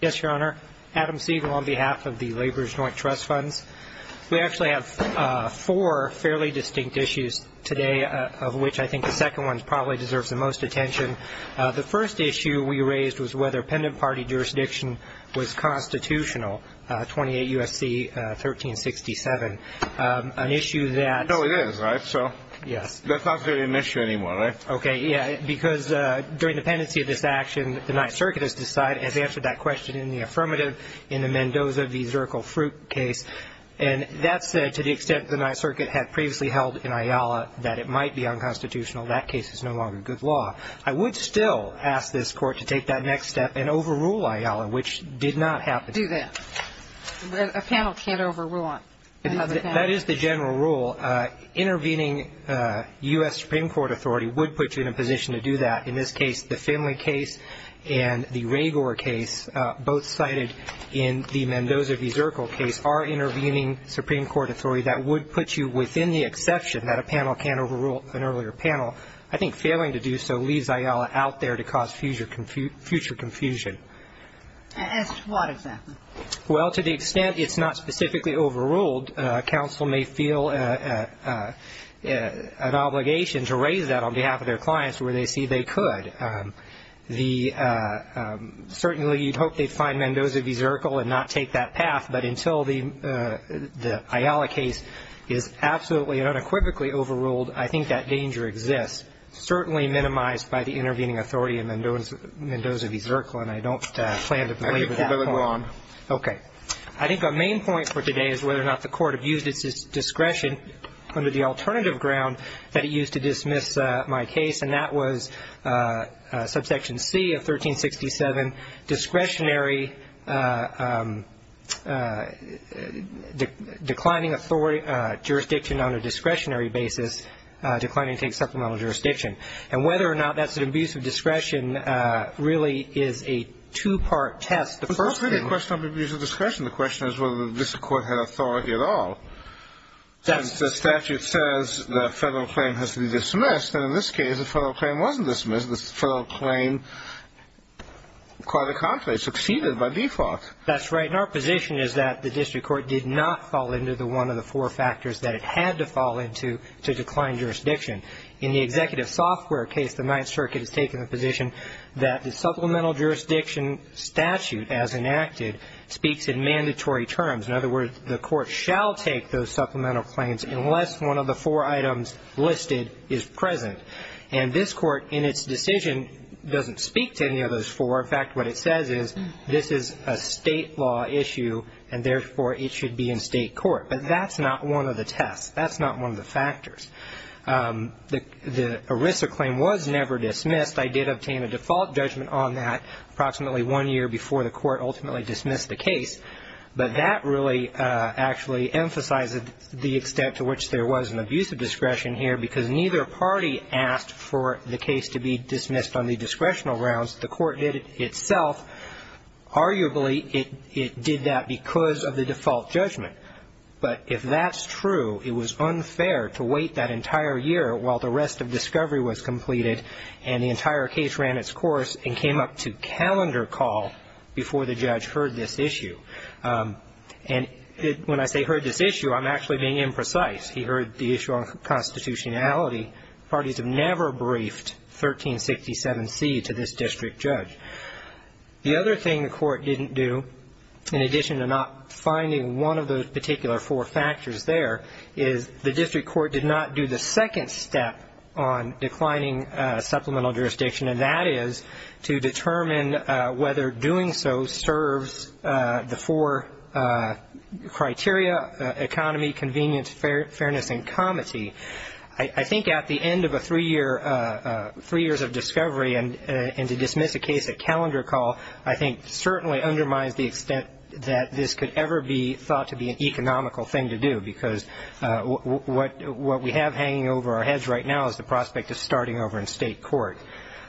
Yes, Your Honor. Adam Siegel on behalf of the Laborers Joint Trust Funds. We actually have four fairly distinct issues today, of which I think the second one probably deserves the most attention. The first issue we raised was whether pendant party jurisdiction was constitutional, 28 U.S.C. 1367. An issue that- No, it is, right? Yes. That's not really an issue anymore, right? Okay, yeah, because during the pendency of this action, the Ninth Circuit has decided- has answered that question in the affirmative in the Mendoza v. Zirkle Fruit case. And that said, to the extent the Ninth Circuit had previously held in Ayala that it might be unconstitutional, that case is no longer good law. I would still ask this Court to take that next step and overrule Ayala, which did not happen. A panel can't overrule another panel. That is the general rule. Intervening U.S. Supreme Court authority would put you in a position to do that. In this case, the Finley case and the Ragour case, both cited in the Mendoza v. Zirkle case, are intervening Supreme Court authority. That would put you within the exception that a panel can't overrule an earlier panel. I think failing to do so leaves Ayala out there to cause future confusion. As to what, exactly? Well, to the extent it's not specifically overruled, counsel may feel an obligation to raise that on behalf of their clients where they see they could. Certainly you'd hope they'd find Mendoza v. Zirkle and not take that path, but until the Ayala case is absolutely and unequivocally overruled, I think that danger exists, certainly minimized by the intervening authority in Mendoza v. Zirkle, and I don't plan to belabor that point. Okay. I think our main point for today is whether or not the Court abused its discretion under the alternative ground that it used to dismiss my case, and that was subsection C of 1367, discretionary, declining jurisdiction on a discretionary basis, declining to take supplemental jurisdiction. And whether or not that's an abuse of discretion really is a two-part test. The first part of your question on abuse of discretion, the question is whether the district court had authority at all. The statute says the federal claim has to be dismissed, and in this case the federal claim wasn't dismissed. The federal claim, quite a conflict, succeeded by default. That's right. And our position is that the district court did not fall into the one of the four factors that it had to fall into to decline jurisdiction. In the executive software case, the Ninth Circuit has taken the position that the supplemental jurisdiction statute, as enacted, speaks in mandatory terms. In other words, the Court shall take those supplemental claims unless one of the four items listed is present. And this Court in its decision doesn't speak to any of those four. In fact, what it says is this is a state law issue, and therefore it should be in state court. But that's not one of the tests. That's not one of the factors. The ERISA claim was never dismissed. I did obtain a default judgment on that approximately one year before the Court ultimately dismissed the case. But that really actually emphasized the extent to which there was an abuse of discretion here because neither party asked for the case to be dismissed on the discretional grounds. The Court did it itself. Arguably, it did that because of the default judgment. But if that's true, it was unfair to wait that entire year while the rest of discovery was completed and the entire case ran its course and came up to calendar call before the judge heard this issue. And when I say heard this issue, I'm actually being imprecise. He heard the issue on constitutionality. Parties have never briefed 1367C to this district judge. The other thing the Court didn't do, in addition to not finding one of those particular four factors there, is the district court did not do the second step on declining supplemental jurisdiction, and that is to determine whether doing so serves the four criteria, economy, convenience, fairness, and comity. I think at the end of three years of discovery and to dismiss a case at calendar call, I think certainly undermines the extent that this could ever be thought to be an economical thing to do because what we have hanging over our heads right now is the prospect of starting over in state court.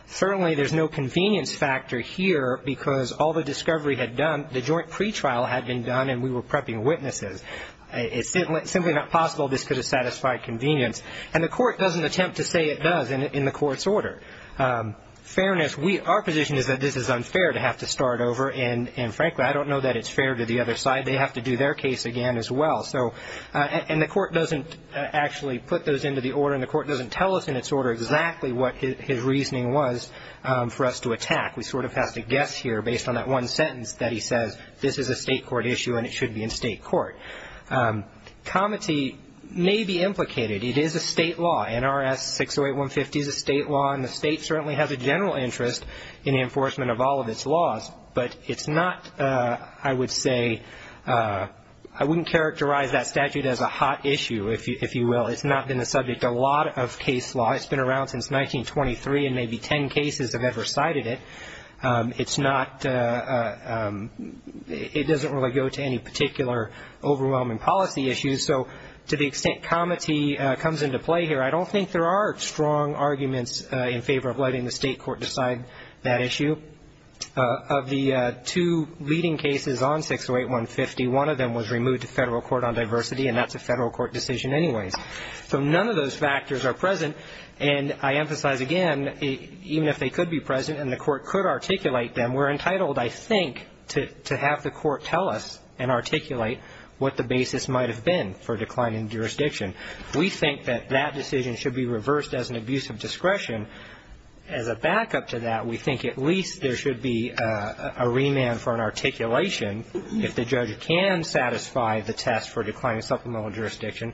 Certainly, there's no convenience factor here because all the discovery had done, the joint pretrial had been done, and we were prepping witnesses. It's simply not possible this could have satisfied convenience, and the Court doesn't attempt to say it does in the Court's order. Fairness, our position is that this is unfair to have to start over, and frankly, I don't know that it's fair to the other side. They have to do their case again as well, and the Court doesn't actually put those into the order, and the Court doesn't tell us in its order exactly what his reasoning was for us to attack. We sort of have to guess here based on that one sentence that he says, this is a state court issue, and it should be in state court. Comity may be implicated. It is a state law. NRS 608-150 is a state law, and the state certainly has a general interest in the enforcement of all of its laws, but it's not, I would say, I wouldn't characterize that statute as a hot issue, if you will. It's not been the subject of a lot of case law. It's been around since 1923, and maybe ten cases have ever cited it. It's not, it doesn't really go to any particular overwhelming policy issues. So to the extent comity comes into play here, I don't think there are strong arguments in favor of letting the state court decide that issue. Of the two leading cases on 608-150, one of them was removed to federal court on diversity, and that's a federal court decision anyways. So none of those factors are present, and I emphasize again, even if they could be present and the court could articulate them, we're entitled, I think, to have the court tell us and articulate what the basis might have been for declining jurisdiction. We think that that decision should be reversed as an abuse of discretion. As a backup to that, we think at least there should be a remand for an articulation. If the judge can satisfy the test for declining supplemental jurisdiction,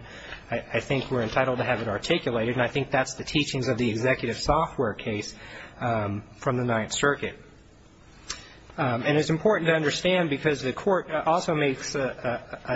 I think we're entitled to have it articulated, and I think that's the teachings of the executive software case from the Ninth Circuit. And it's important to understand because the court also makes an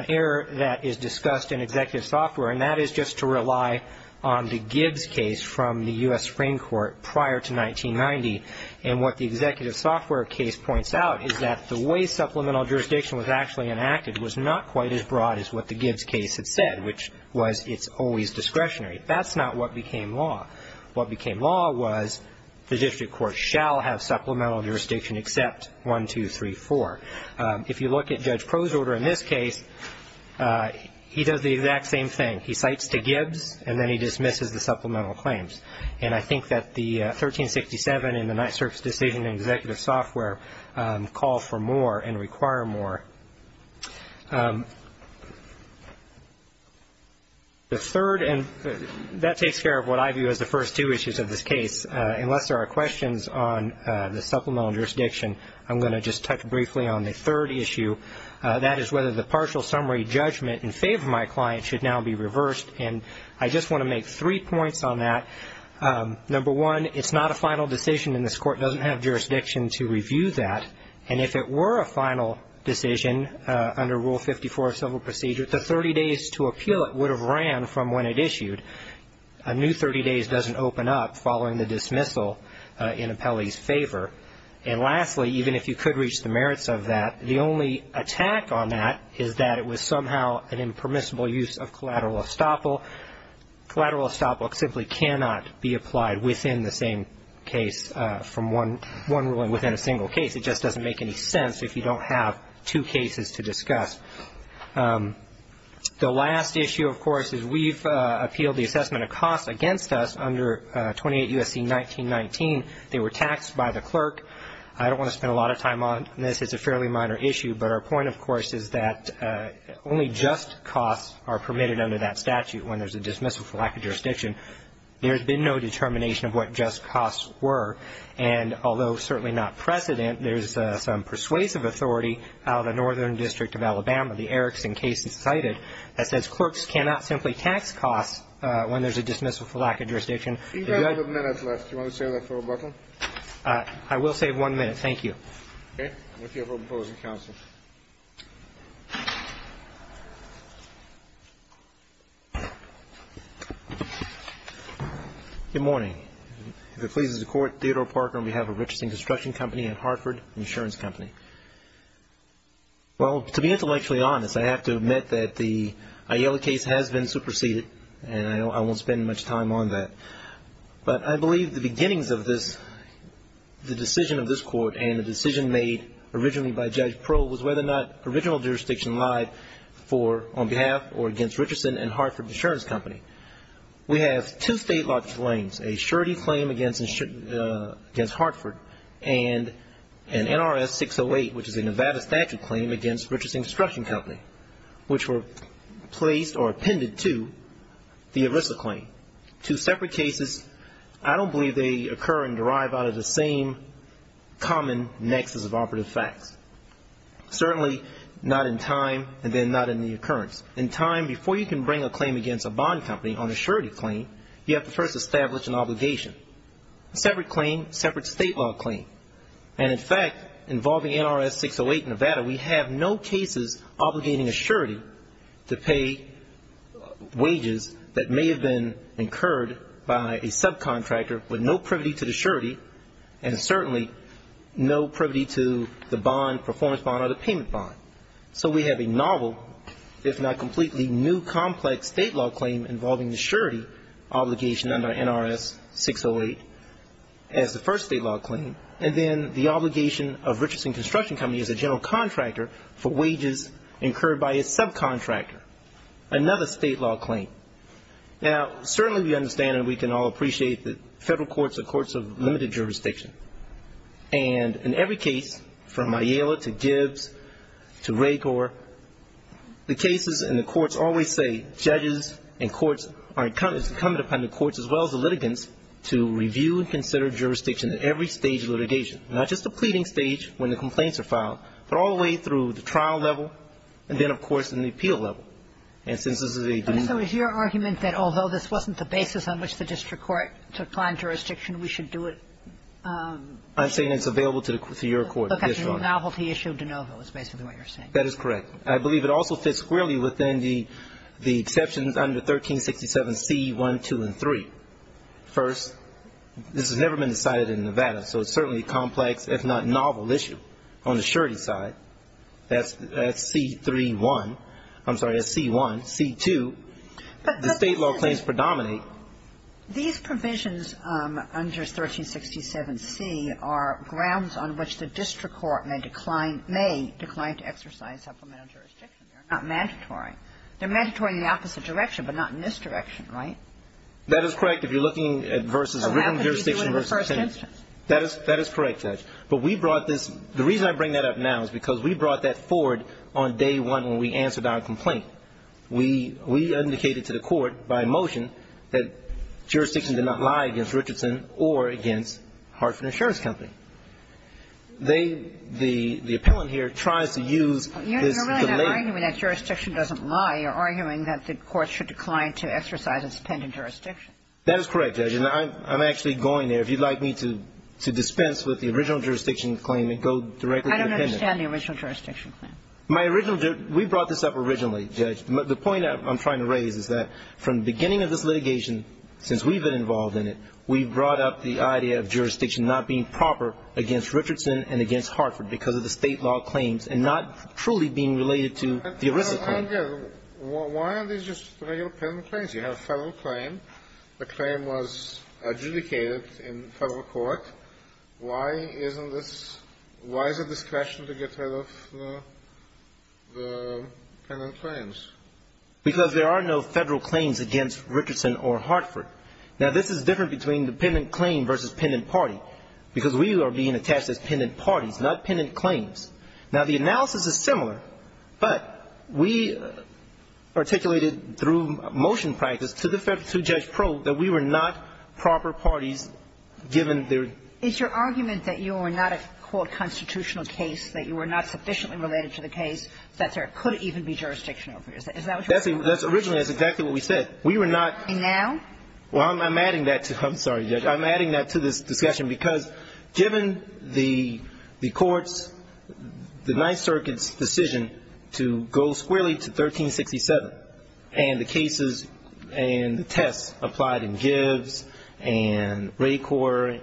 error that is discussed in executive software, and that is just to rely on the Gibbs case from the U.S. Supreme Court prior to 1990. And what the executive software case points out is that the way supplemental jurisdiction was actually enacted was not quite as broad as what the Gibbs case had said, which was it's always discretionary. That's not what became law. What became law was the district court shall have supplemental jurisdiction except 1, 2, 3, 4. If you look at Judge Crow's order in this case, he does the exact same thing. He cites to Gibbs, and then he dismisses the supplemental claims. And I think that the 1367 in the Ninth Circuit's decision in executive software calls for more and requires more. The third, and that takes care of what I view as the first two issues of this case. Unless there are questions on the supplemental jurisdiction, I'm going to just touch briefly on the third issue. That is whether the partial summary judgment in favor of my client should now be reversed, and I just want to make three points on that. Number one, it's not a final decision, and this court doesn't have jurisdiction to review that. And if it were a final decision under Rule 54 of civil procedure, the 30 days to appeal it would have ran from when it issued. A new 30 days doesn't open up following the dismissal in appellee's favor. And lastly, even if you could reach the merits of that, the only attack on that is that it was somehow an impermissible use of collateral estoppel. Collateral estoppel simply cannot be applied within the same case from one ruling within a single case. It just doesn't make any sense if you don't have two cases to discuss. The last issue, of course, is we've appealed the assessment of costs against us under 28 U.S.C. 1919. They were taxed by the clerk. I don't want to spend a lot of time on this. It's a fairly minor issue, but our point, of course, is that only just costs are permitted under that statute when there's a dismissal for lack of jurisdiction. There's been no determination of what just costs were, and although certainly not precedent, there's some persuasive authority out of the Northern District of Alabama, the Erickson case is cited, that says clerks cannot simply tax costs when there's a dismissal for lack of jurisdiction. Do you have a minute left? Do you want to save that for rebuttal? I will save one minute. Thank you. Okay. We're here for opposing counsel. Good morning. If it pleases the Court, Theodore Parker on behalf of Richardson Construction Company and Hartford Insurance Company. Well, to be intellectually honest, I have to admit that the Aiello case has been superseded, and I won't spend much time on that. But I believe the beginnings of this, the decision of this Court, and the decision made originally by Judge Pearl was whether or not original jurisdiction lied on behalf or against Richardson and Hartford Insurance Company. We have two state-launched claims, a surety claim against Hartford and an NRS 608, which is a Nevada statute claim against Richardson Construction Company, which were placed or appended to the ERISA claim. Two separate cases. I don't believe they occur and derive out of the same common nexus of operative facts. Certainly not in time, and then not in the occurrence. In time, before you can bring a claim against a bond company on a surety claim, you have to first establish an obligation. Separate claim, separate state-law claim. And, in fact, involving NRS 608 Nevada, we have no cases obligating a surety to pay wages that may have been incurred by a subcontractor with no privity to the surety and certainly no privity to the bond, performance bond, or the payment bond. So we have a novel, if not completely new, complex state-law claim involving the surety obligation under NRS 608 as the first state-law claim, and then the obligation of Richardson Construction Company as a general contractor for wages incurred by a subcontractor, another state-law claim. Now, certainly we understand and we can all appreciate that federal courts are courts of limited jurisdiction. And in every case, from Ayala to Gibbs to Raykor, the cases in the courts always say judges and courts are incumbent upon the courts as well as the litigants to review and consider jurisdiction at every stage of litigation, not just the pleading stage when the complaints are filed, but all the way through the trial level and then, of course, in the appeal level. And since this is a denial. And so is your argument that although this wasn't the basis on which the district court took client jurisdiction, we should do it? I'm saying it's available to your court. Okay. The novelty issue de novo is basically what you're saying. That is correct. I believe it also fits squarely within the exceptions under 1367C1, 2, and 3. First, this has never been decided in Nevada, so it's certainly a complex, if not novel, issue. On the surety side, that's C3, 1. I'm sorry, that's C1. C2, the State law claims predominate. These provisions under 1367C are grounds on which the district court may decline to exercise supplemental jurisdiction. They're not mandatory. They're mandatory in the opposite direction, but not in this direction, right? That is correct. If you're looking at versus a written jurisdiction. So how could you do it in the first instance? That is correct, Judge. But we brought this – the reason I bring that up now is because we brought that forward on day one when we answered our complaint. We indicated to the court by motion that jurisdiction did not lie against Richardson or against Hartford Insurance Company. They – the appellant here tries to use this delay. You're really not arguing that jurisdiction doesn't lie. You're arguing that the court should decline to exercise its pending jurisdiction. That is correct, Judge. And I'm actually going there. If you'd like me to dispense with the original jurisdiction claim and go directly to the appendix. I don't understand the original jurisdiction claim. My original – we brought this up originally, Judge. The point I'm trying to raise is that from the beginning of this litigation, since we've been involved in it, we've brought up the idea of jurisdiction not being proper against Richardson and against Hartford because of the State law claims and not truly being related to the original claim. I don't get it. Why are these just regular pending claims? You have a federal claim. The claim was adjudicated in federal court. Why isn't this – why is it discretion to get rid of the pending claims? Because there are no federal claims against Richardson or Hartford. Now, this is different between the pending claim versus pending party because we are being attached as pending parties, not pending claims. Now, the analysis is similar, but we articulated through motion practice to the federal judge probe that we were not proper parties given their – It's your argument that you were not a, quote, constitutional case, that you were not sufficiently related to the case, that there could even be jurisdiction over it. Is that what you're saying? That's – originally, that's exactly what we said. We were not – And now? Well, I'm adding that to – I'm sorry, Judge. I'm adding that to this discussion because given the court's, the Ninth Circuit's decision to go squarely to 1367 and the cases and the tests applied in Gibbs and Ray Corps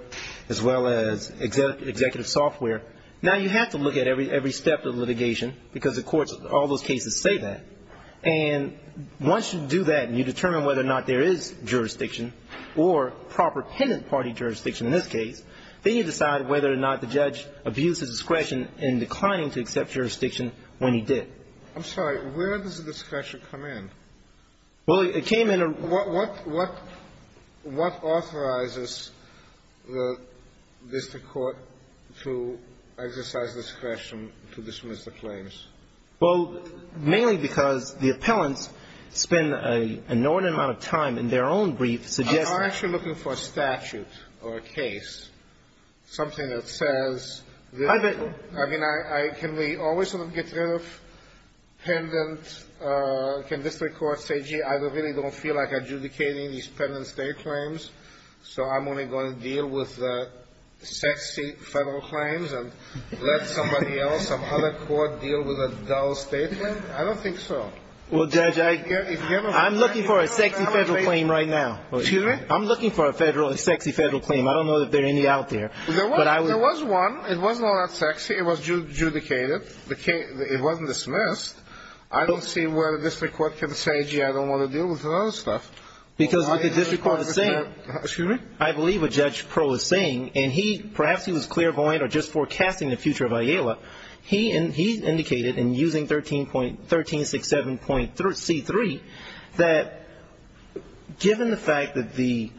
as well as executive software, now you have to look at every step of litigation because the courts, all those cases say that. And once you do that and you determine whether or not there is jurisdiction or proper pending party jurisdiction in this case, then you decide whether or not the judge abused his discretion when he did. I'm sorry. Where does the discretion come in? Well, it came in a – What authorizes the district court to exercise discretion to dismiss the claims? Well, mainly because the appellants spend an inordinate amount of time in their own brief suggesting – I'm actually looking for a statute or a case, something that says that – I bet – I mean, can we always sort of get rid of pendent – can district courts say, gee, I really don't feel like adjudicating these pendent state claims, so I'm only going to deal with sexy federal claims and let somebody else, some other court, deal with a dull state claim? I don't think so. Well, Judge, I – I'm looking for a sexy federal claim right now. Excuse me? I'm looking for a federal – a sexy federal claim. I don't know if there are any out there. There was one. It was not that sexy. It was adjudicated. It wasn't dismissed. I don't see where the district court can say, gee, I don't want to deal with another stuff. Because what the district court is saying – Excuse me? I believe what Judge Pearl is saying, and he – perhaps he was clairvoyant or just forecasting the future of IALA. He indicated in using 13. – 1367.C3 that given the fact that the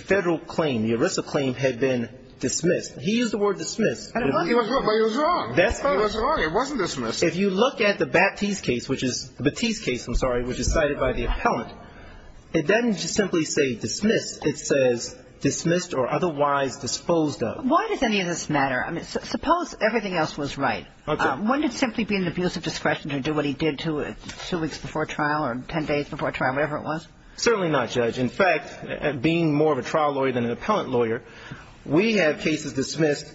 federal claim, the ERISA claim, had been dismissed – he used the word dismissed. But it was wrong. That's right. It was wrong. It wasn't dismissed. If you look at the Batiste case, which is – Batiste case, I'm sorry, which is cited by the appellant, it doesn't simply say dismissed. It says dismissed or otherwise disposed of. Why does any of this matter? I mean, suppose everything else was right. Okay. Wouldn't it simply be an abuse of discretion to do what he did two weeks before trial or ten days before trial, whatever it was? Certainly not, Judge. In fact, being more of a trial lawyer than an appellant lawyer, we have cases dismissed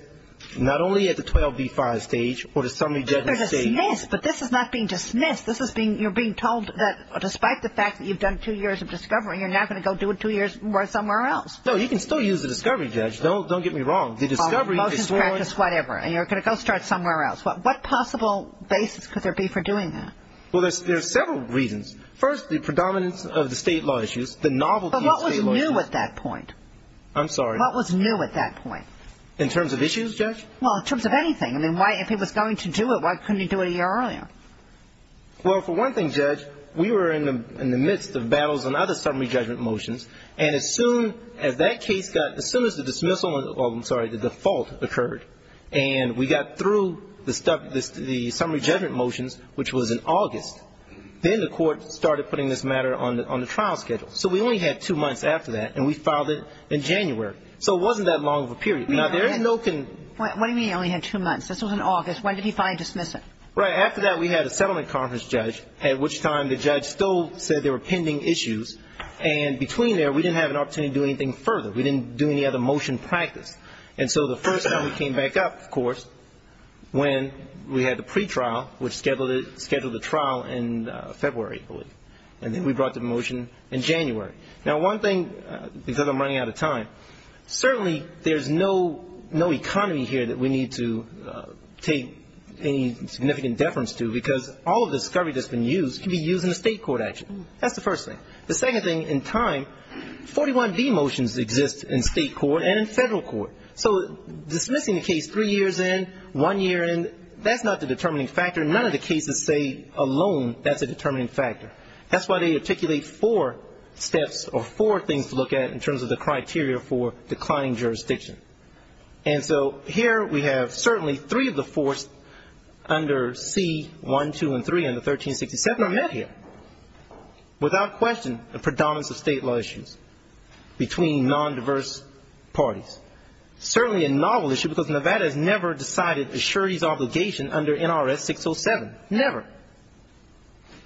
not only at the 12B5 stage or the summary judgment stage – But they're dismissed. But this is not being dismissed. This is being – you're being told that despite the fact that you've done two years of discovery, you're now going to go do it two years more somewhere else. No, you can still use the discovery, Judge. Don't get me wrong. The discovery is sworn – Or motions practice, whatever, and you're going to go start somewhere else. What possible basis could there be for doing that? Well, there's several reasons. First, the predominance of the State law issues, the novelty of State law issues. But what was new at that point? I'm sorry. What was new at that point? In terms of issues, Judge? Well, in terms of anything. I mean, why – if he was going to do it, why couldn't he do it a year earlier? Well, for one thing, Judge, we were in the midst of battles on other summary judgment motions, and as soon as that case got – as soon as the dismissal – well, I'm sorry, the default occurred, and we got through the summary judgment motions, which was in August, then the court started putting this matter on the trial schedule. So we only had two months after that, and we filed it in January. So it wasn't that long of a period. Now, there is no – What do you mean you only had two months? This was in August. When did he finally dismiss it? Right. After that, we had a settlement conference, Judge, at which time the judge still said there were pending issues, and between there, we didn't have an opportunity to do anything further. We didn't do any other motion practice. And so the first time we came back up, of course, when we had the pretrial, which scheduled the trial in February, I believe, and then we brought the motion in January. Now, one thing, because I'm running out of time, certainly there's no economy here that we need to take any significant deference to, because all of the discovery that's been used can be used in a state court action. That's the first thing. The second thing, in time, 41B motions exist in state court and in federal court. So dismissing the case three years in, one year in, that's not the determining factor. None of the cases say alone that's a determining factor. That's why they articulate four steps or four things to look at in terms of the criteria for declining jurisdiction. And so here we have certainly three of the four under C-1, 2, and 3 under 1367 are met here, without question a predominance of state law issues between nondiverse parties. Certainly a novel issue, because Nevada has never decided a surety's obligation under NRS 607. Never.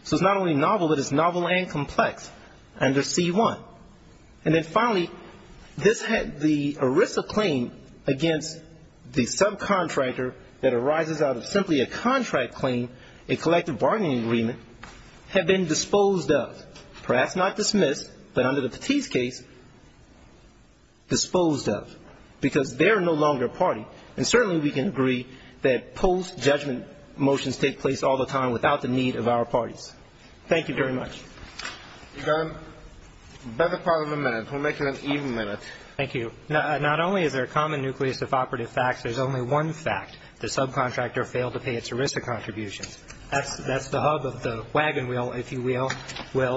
So it's not only novel, but it's novel and complex under C-1. And then finally, the ERISA claim against the subcontractor that arises out of simply a contract claim, a collective bargaining agreement, have been disposed of. Perhaps not dismissed, but under the Petit's case, disposed of, because they're no longer a party. And certainly we can agree that post-judgment motions take place all the time without the need of our parties. Thank you very much. You've got a better part of a minute. We'll make it an even minute. Thank you. Not only is there a common nucleus of operative facts, there's only one fact, the subcontractor failed to pay its ERISA contributions. That's the hub of the wagon wheel, if you will.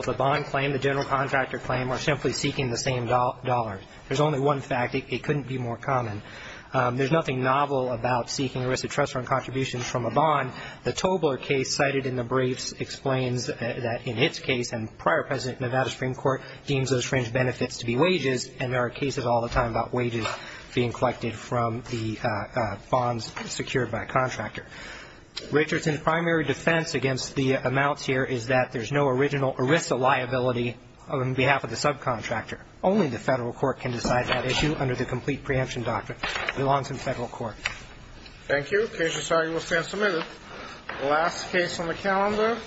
The bond claim, the general contractor claim, are simply seeking the same dollars. There's only one fact. It couldn't be more common. There's nothing novel about seeking ERISA trust fund contributions from a bond. The Tobler case cited in the briefs explains that in its case, and prior President of Nevada Supreme Court deems those fringe benefits to be wages, and there are cases all the time about wages being collected from the bonds secured by a contractor. Richardson's primary defense against the amounts here is that there's no original ERISA liability on behalf of the subcontractor. Only the federal court can decide that issue under the complete preemption doctrine. It belongs in federal court. Thank you. The case is signed and will stand submitted. The last case on the calendar.